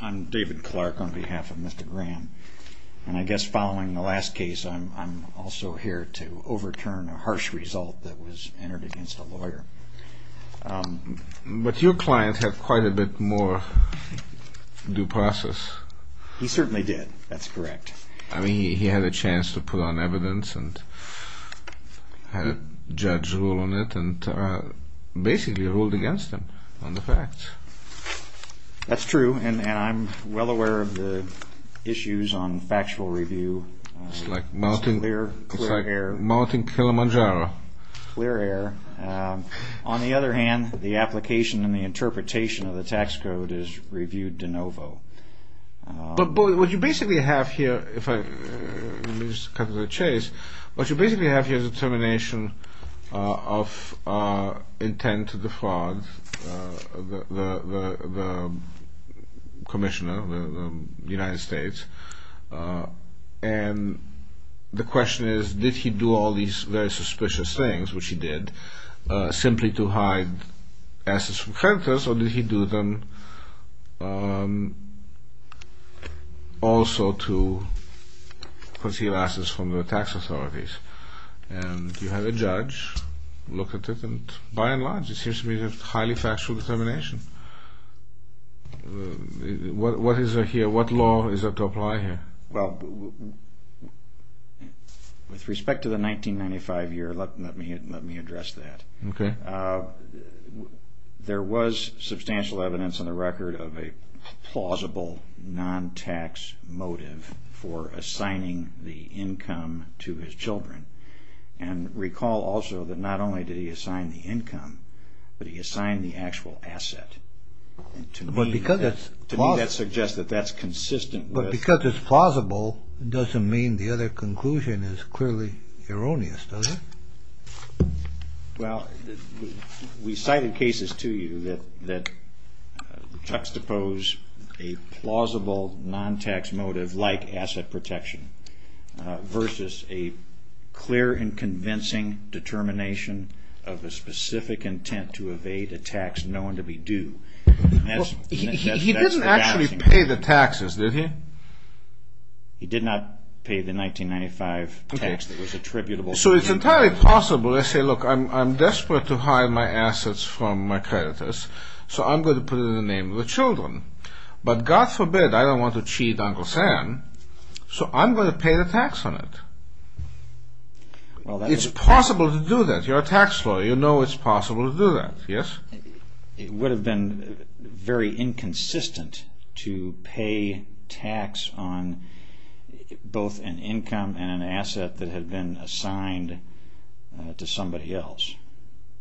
I'm David Clark on behalf of Mr. Graham and I guess following the last case I'm also here to overturn a harsh result that was entered against a lawyer. But your client had quite a bit more due process. He certainly did, that's correct. I mean he had a chance to put on evidence and had a judge rule on it and basically ruled against him on the facts. That's true and I'm well aware of the issues on factual review. It's like mounting clear air. On the other hand the application and the interpretation of the tax code is reviewed de novo. But what you basically have here, if I just cut to the chase, what you basically have here is a termination of intent to defraud the Commissioner of the United States and the question is did he do all these very suspicious things, which he did, simply to hide assets from creditors or did he do them also to conceal assets from the tax authorities? And you have a judge look at it and by and large it seems to be a highly factual determination. What is it here? What law is it to apply here? Well with respect to the 1995 year let me address that. There was substantial evidence on the record of a plausible non-tax motive for assigning the income to his children and recall also that not only did he assign the income but he assigned the actual asset. To me that suggests that that's consistent. But because it's the other conclusion is clearly erroneous. Well we cited cases to you that juxtapose a plausible non-tax motive like asset protection versus a clear and convincing determination of a specific intent to evade a tax known to do. He didn't actually pay the taxes did he? He did not pay the 1995 tax that was attributable. So it's entirely possible to say look I'm desperate to hide my assets from my creditors so I'm going to put it in the name of the children but God forbid I don't want to cheat Uncle Sam so I'm going to pay the tax on it. Well it's possible to do that you're a tax lawyer you know it's possible to do that yes. It would have been very inconsistent to pay tax on both an income and an asset that had been assigned to somebody else.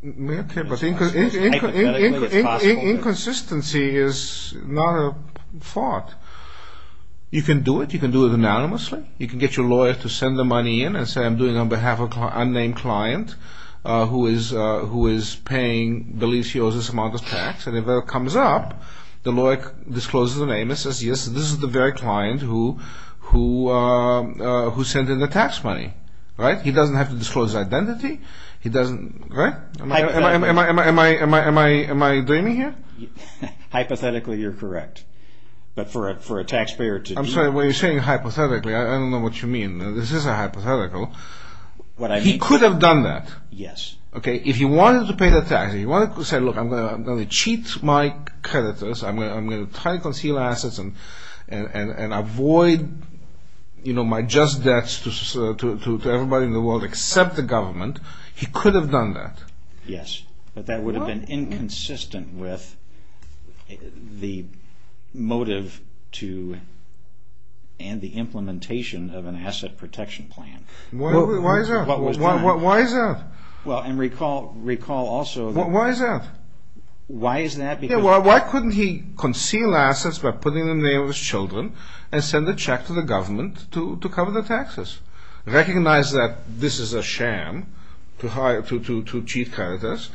Inconsistency is not a fault. You can do it you can do it anonymously you can get your lawyer to send the money in and say I'm doing on behalf of an unnamed client who is who is paying the lease he owes this amount of tax and if it comes up the lawyer discloses the name and says yes this is the very client who sent in the tax money right he doesn't have to disclose identity he doesn't right? Am I dreaming here? Hypothetically you're correct but for it for a taxpayer to... I'm sorry what you're saying hypothetically I don't know what you mean this is a hypothetical but he could have done that yes okay if he wanted to pay the tax he wanted to say look I'm gonna cheat my creditors I'm gonna try to conceal assets and and and avoid you know my just debts to everybody in the world except the government he could have done that yes but that would have been inconsistent with the motive to and the asset protection plan why is that well and recall recall also why is that why is that yeah well why couldn't he conceal assets by putting the name of his children and send a check to the government to cover the taxes recognize that this is a sham to hire to cheat creditors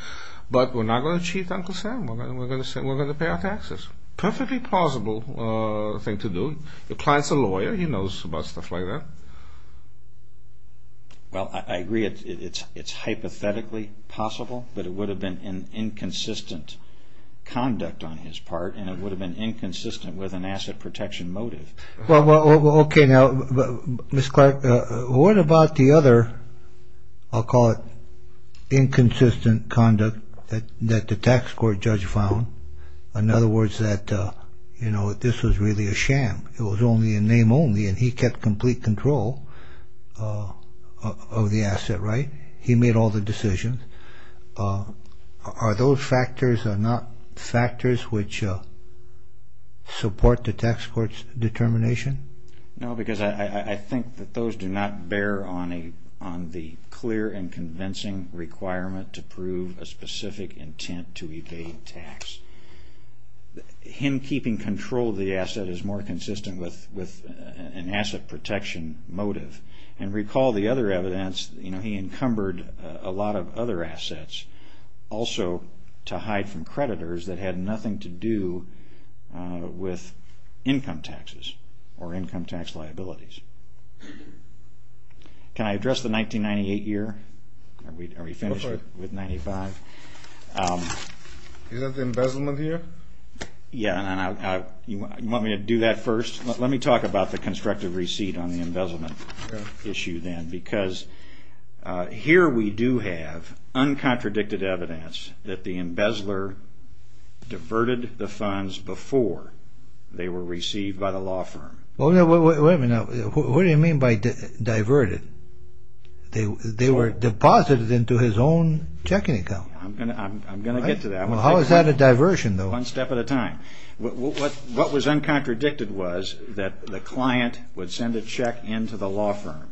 but we're not gonna cheat Uncle Sam we're gonna pay our taxes perfectly plausible thing to do the client's a lawyer he knows about stuff like that well I agree it's it's hypothetically possible but it would have been an inconsistent conduct on his part and it would have been inconsistent with an asset protection motive well well okay now miss Clark what about the other I'll call it inconsistent conduct that that the tax court judge found in other words that you know this was really a sham it was only a name only and he kept complete control of the asset right he made all the decisions are those factors are not factors which support the tax court's determination no because I think that those do not bear on a on the clear and convincing requirement to prove a specific intent to evade tax him keeping control of the asset is more consistent with with an asset protection motive and recall the other evidence you know he encumbered a lot of other assets also to hide from creditors that had nothing to do with income taxes or income tax liabilities can I address the 1998 year we are we the embezzlement here yeah and I you want me to do that first let me talk about the constructive receipt on the embezzlement issue then because here we do have uncontradicted evidence that the embezzler diverted the funds before they were received by the law firm oh no wait a minute what do you mean by diverted they they were deposited into his own checking account I'm gonna I'm gonna have a diversion though one step at a time what was uncontradicted was that the client would send a check into the law firm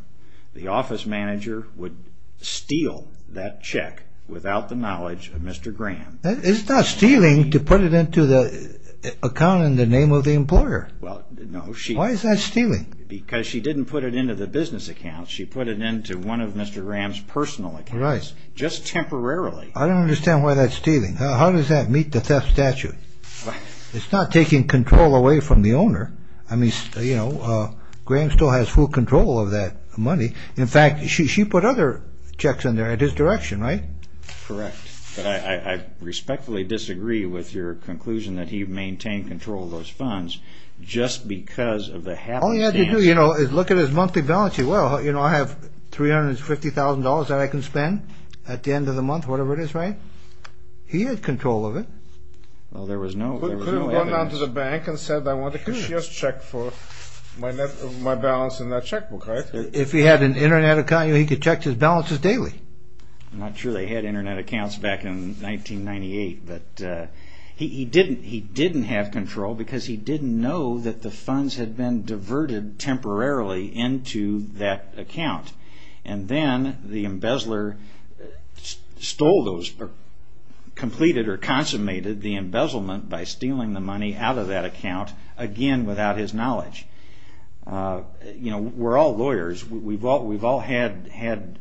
the office manager would steal that check without the knowledge of mr. Graham is not stealing to put it into the account in the name of the employer well no she why is that stealing because she didn't put it into the business account she put it into one of mr. Graham's personal rights just temporarily I don't understand why that stealing how does that meet the theft statute it's not taking control away from the owner I mean you know Graham still has full control of that money in fact she put other checks in there at his direction right correct I respectfully disagree with your conclusion that he maintained control of those funds just because of the hell yeah you know is look at his monthly balance you well you know I have 350 thousand dollars that I can spend at the he had control of it well there was no going down to the bank and said I want to just check for my net of my balance in that checkbook right if he had an internet account you he could check his balances daily I'm not sure they had internet accounts back in 1998 but he didn't he didn't have control because he didn't know that the funds had been diverted temporarily into that account and then the embezzler stole those completed or consummated the embezzlement by stealing the money out of that account again without his knowledge you know we're all lawyers we've all we've all had had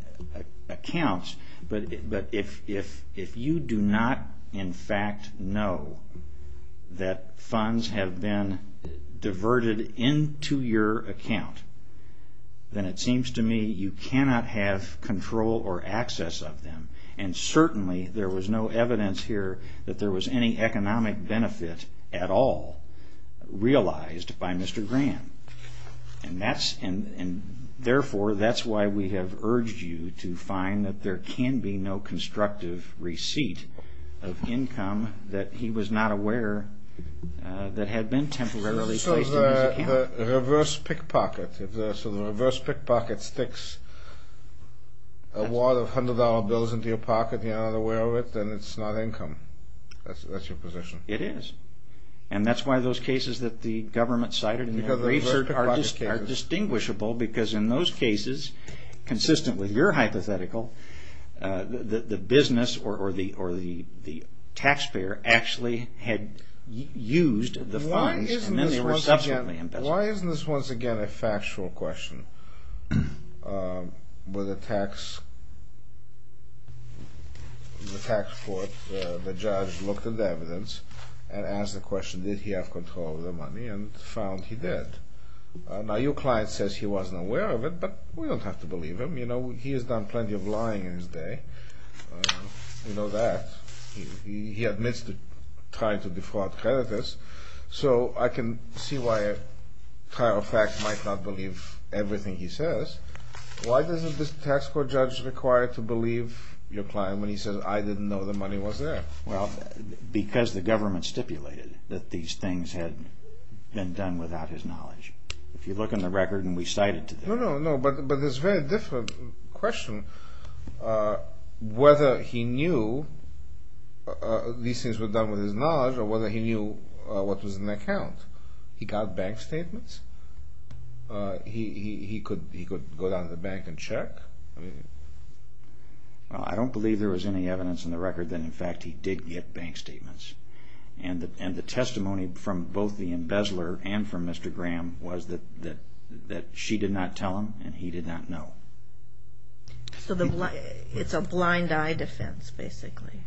accounts but but if if if you do not in fact know that funds have been diverted into your account then it you cannot have control or access of them and certainly there was no evidence here that there was any economic benefit at all realized by mr. Graham and that's and and therefore that's why we have urged you to find that there can be no constructive receipt of income that he was not aware that had been temporarily reverse pickpocket so the reverse pickpocket sticks a lot of hundred-dollar bills into your pocket you're not aware of it then it's not income that's your position it is and that's why those cases that the government cited in the research are just are distinguishable because in those cases consistent with your hypothetical the business or the or the the taxpayer actually had used the why isn't this once again a factual question with the tax the tax court the judge looked at the evidence and asked the question did he have control of the money and found he did now your client says he wasn't aware of it but we don't have to believe him you know he has done plenty of lying in his day you know that he admits to trying to defraud creditors so I can see why a fact might not believe everything he says why doesn't this tax court judge required to believe your client when he says I didn't know the money was there well because the government stipulated that these things had been done without his knowledge if you look in the record and we cited to no no no but but there's very different question whether he knew these things were done with his knowledge or whether he knew what was an account he got bank statements he could he could go down to the bank and check I don't believe there was any evidence in the record that in fact he did get bank statements and the and the testimony from both the embezzler and from mr. Graham was that that that she did not tell him and he did not know so the why it's a blind eye defense basically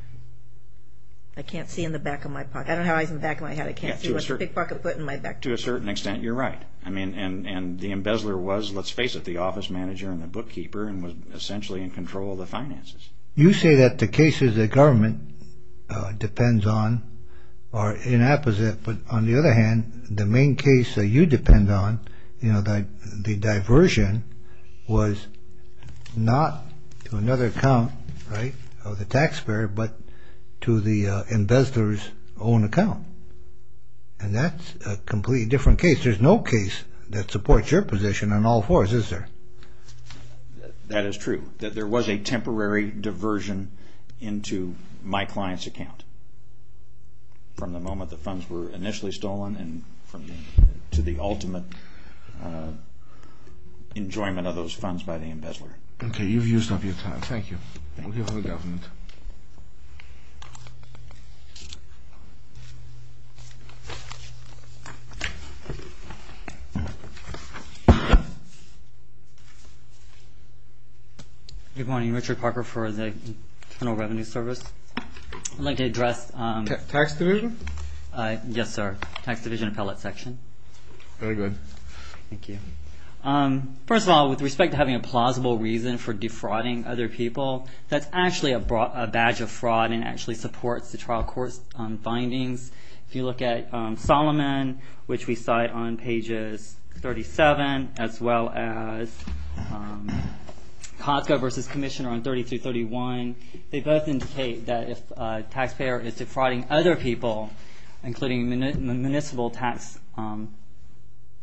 I can't see in the back of my pocket I don't have eyes in back of my head I can't see what's a big pocket put in my back to a certain extent you're right I mean and and the embezzler was let's face it the office manager and the bookkeeper and was essentially in control of the finances you say that the cases that government depends on or in apposite but on the other hand the main case that you depend on you know that the diversion was not to another account right of the taxpayer but to the embezzlers own account and that's a completely different case there's no case that supports your position on all fours is there that is true that there was a temporary diversion into my to the ultimate enjoyment of those funds by the embezzler okay you've used up your time thank you good morning Richard Parker for the Internal Revenue Service I'd like to first of all with respect to having a plausible reason for defrauding other people that's actually a badge of fraud and actually supports the trial court findings if you look at Solomon which we cite on pages 37 as well as Costco versus Commissioner on 30 to 31 they both indicate that if taxpayer is frauding other people including the municipal tax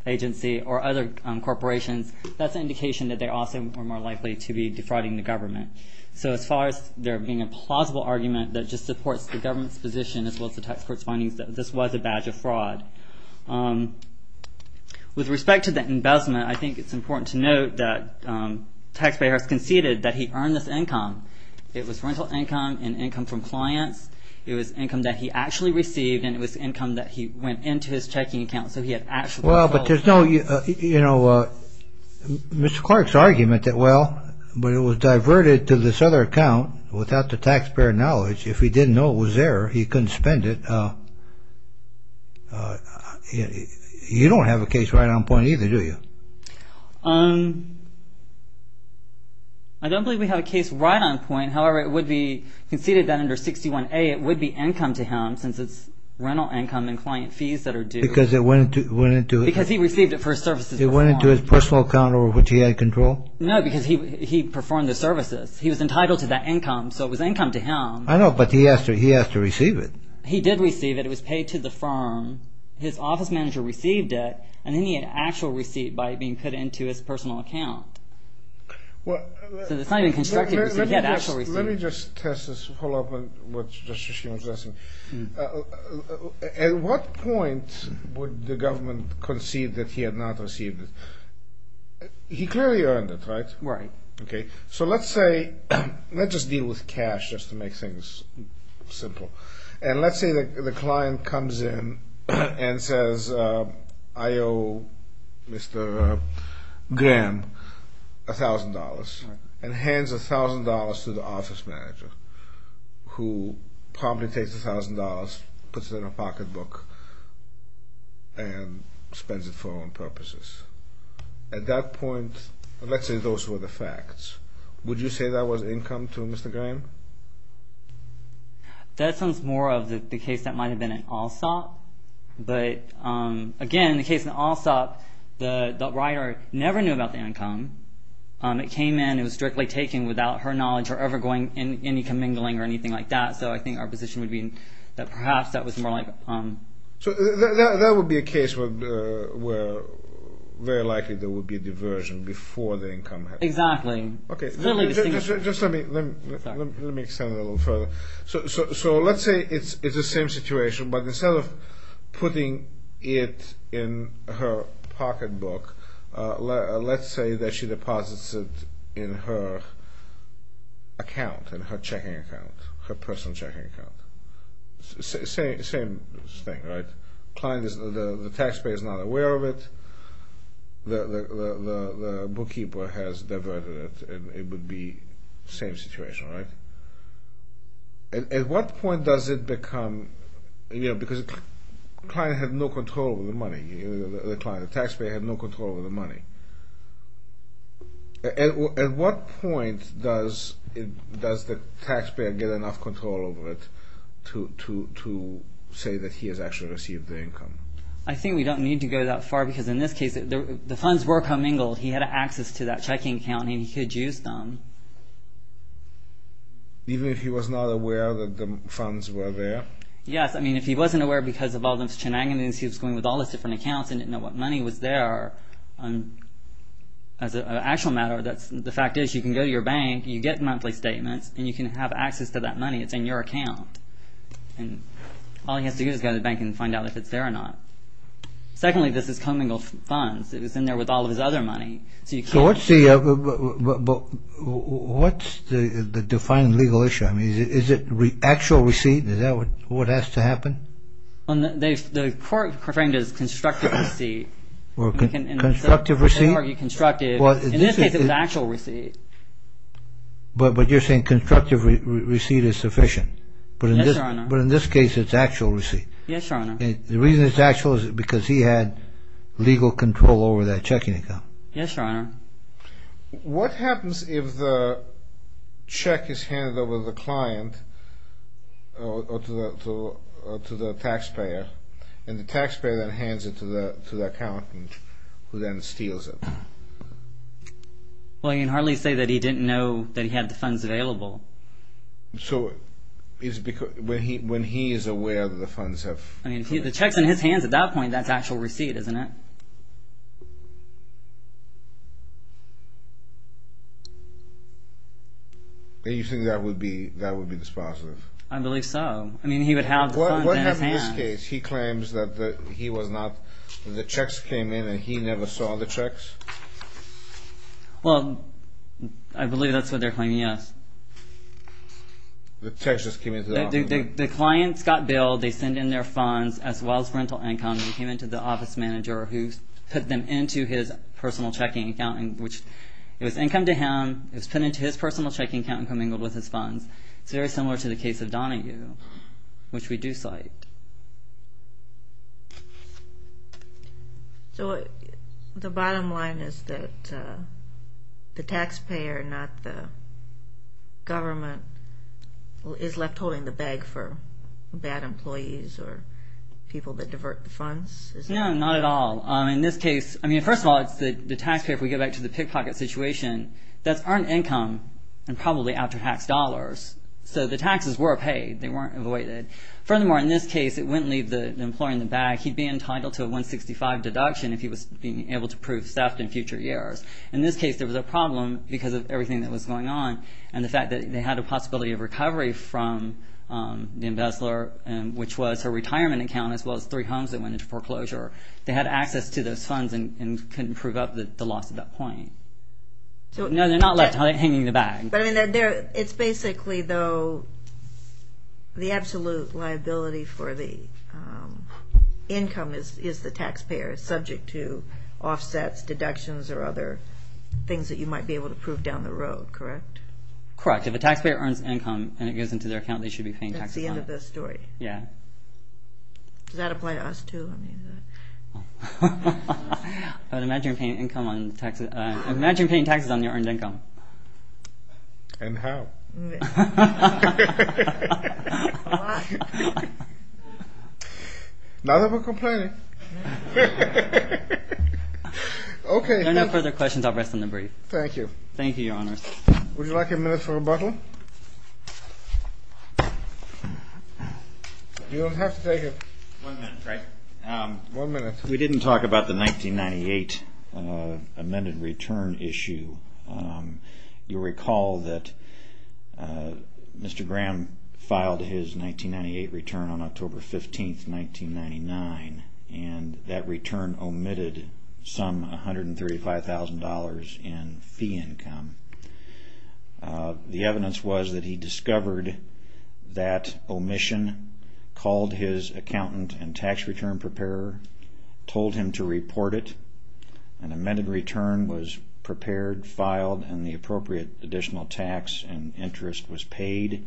agency or other corporations that's indication that they are more likely to be defrauding the government so as far as there being a plausible argument that just supports the government's position as well as the tax court's findings that this was a badge of fraud with respect to the investment I think it's important to note that taxpayers conceded that he earned this income it was rental income and income from clients it was income that he actually received and it was income that he went into his checking account so he had actually well but there's no you know Mr. Clark's argument that well but it was diverted to this other account without the taxpayer knowledge if he didn't know it was there he couldn't spend it you don't have a case right on point either do you um I don't believe we have a case right on point however it would be conceded that under 61 a it would be income to him since it's rental income and client fees that are due because it went went into it because he received it for services it went into his personal account over which he had control no because he he performed the services he was entitled to that income so it was income to him I know but he asked her he has to receive it he did receive it it was paid to the firm his office manager received it and then he had actual receipt by being put into his personal account at what point would the government concede that he had not received it he clearly earned it right right okay so let's say let's just deal with cash just to make things simple and mr. Graham $1,000 and hands $1,000 to the office manager who probably takes a thousand dollars puts it in a pocketbook and spends it for own purposes at that point let's say those were the facts would you say that was income to mr. Graham that sounds more of the case that might have been an all-stop but again in the case an all-stop the writer never knew about the income it came in it was strictly taken without her knowledge or ever going in any commingling or anything like that so I think our position would mean that perhaps that was more like um so that would be a case where very likely there would be a diversion before the income exactly okay so let's say it's it's the her pocketbook let's say that she deposits it in her account and her checking account her personal checking account saying the same thing right client is the taxpayer is not aware of it the bookkeeper has diverted it it would be same situation right at what point does it become you know because client had no control of the money the taxpayer had no control of the money at what point does it does the taxpayer get enough control over it to say that he has actually received the income I think we don't need to go that far because in this case the funds were commingled he had access to that checking account and he could use them even if he was not aware that the funds were there yes I because of all those shenanigans he was going with all those different accounts and didn't know what money was there and as an actual matter that's the fact is you can go to your bank you get monthly statements and you can have access to that money it's in your account and all he has to do is go to the bank and find out if it's there or not secondly this is commingled funds it was in there with all of his other money so you can't see what's the the defined legal issue I would what has to happen on this the court referring to is constructive receipt or constructive receipt are you constructed well in this case it was actual receipt but what you're saying constructive receipt is sufficient but in this but in this case it's actual receipt yes your honor the reason it's actual is because he had legal control over that checking account yes your honor what happens if the check is handed over the client to the taxpayer and the taxpayer that hands it to the to the accountant who then steals it well you can hardly say that he didn't know that he had the funds available so it's because when he when he is aware of the funds have I mean the checks in his hands at that point that's actual receipt isn't it do you think that would be that would be dispositive I believe so I mean he would have his hands he claims that he was not the checks came in and he never saw the checks well I believe that's what they're claiming yes the text just came the clients got billed they send in their funds as well as rental income and came into the office manager who put them into his personal checking account and which it was income to him it was put into his personal checking account and coming with his funds it's very similar to the case of Donahue which we do cite so the bottom line is that the taxpayer not the government is left holding the bag for bad employees or people that divert the funds no not at all in this case I mean first of all it's the taxpayer if we go back to the pickpocket situation that's earned income and probably after tax dollars so the taxes were paid they weren't avoided furthermore in this case it wouldn't leave the employer in the bag he'd be entitled to a 165 deduction if he was being able to prove theft in future years in this case there was a problem because of everything that was going on and the fact that they had a possibility of recovery from the embezzler and which was her retirement account as well as three homes that went into foreclosure they had access to those funds and couldn't prove up the loss at that point so no they're not left hanging the bag it's basically though the absolute liability for the income is is the taxpayer is subject to offsets deductions or other things that you might be able to prove down the road correct correct if a taxpayer earns income and it goes into their account they should be paying taxes on it yeah does that apply to us too I mean but imagine paying income on taxes imagine paying taxes on your earned income and how now that we're complaining okay no no further questions I'll rest on the brief thank you thank you honest would you like a minute for a bottle you'll have to take it one minute we didn't talk about the 1998 amended return issue you recall that mr. Graham filed his 1998 return on October 15th 1999 and that return omitted some $135,000 in fee income the evidence was that he discovered that omission called his accountant and tax return preparer told him to report it an amended return was prepared filed and the appropriate additional tax and interest was paid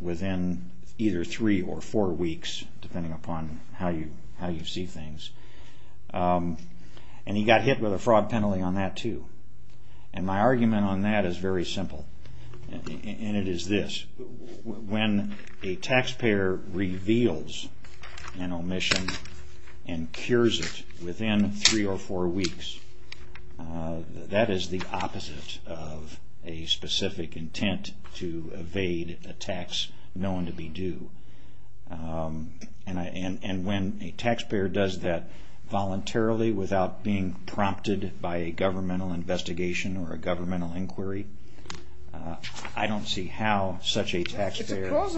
within either three or four weeks depending upon how you how you see things and he got hit with a fraud penalty on that too and my argument on that is very simple and it is this when a taxpayer reveals an omission and cures it within three or four weeks that is the opposite of a specific intent to evade a tax known to be due and I and and when a taxpayer does that voluntarily without being prompted by a governmental investigation or a governmental inquiry I don't see how he didn't buy it it's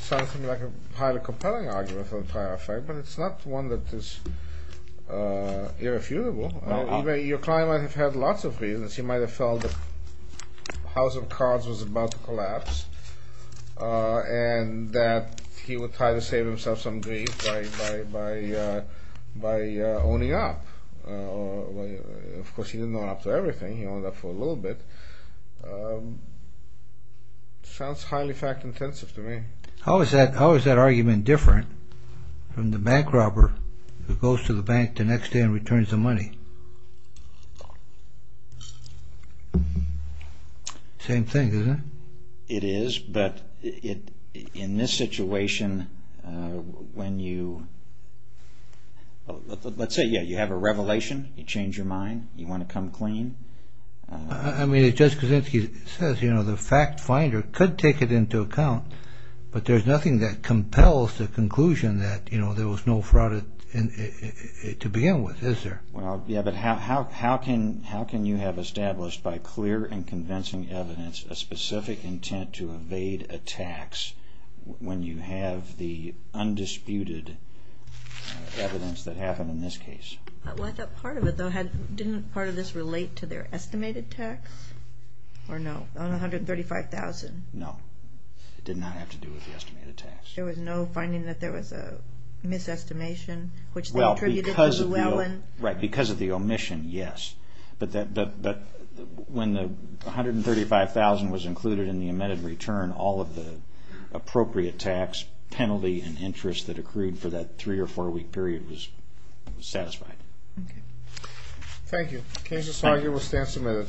something like a highly compelling argument but it's not one that is irrefutable your client might have had lots of reasons he might have felt the house of cards was about to collapse and that he would try to by owning up of course he didn't know after everything you know that for a little bit sounds highly fact-intensive to me how is that how is that argument different from the bank robber who goes to the bank the next day and returns the let's say yeah you have a revelation you change your mind you want to come clean I mean it just because if he says you know the fact finder could take it into account but there's nothing that compels the conclusion that you know there was no fraud in it to begin with is there well yeah but how how can how can you have established by clear and convincing evidence a specific intent to this case didn't part of this relate to their estimated tax or no 135,000 no it did not have to do with the estimated tax there was no finding that there was a misestimation which well because well and right because of the omission yes but that but when the 135,000 was included in the amended return all of the appropriate tax penalty and interest that accrued for that three or four week period was satisfied okay thank you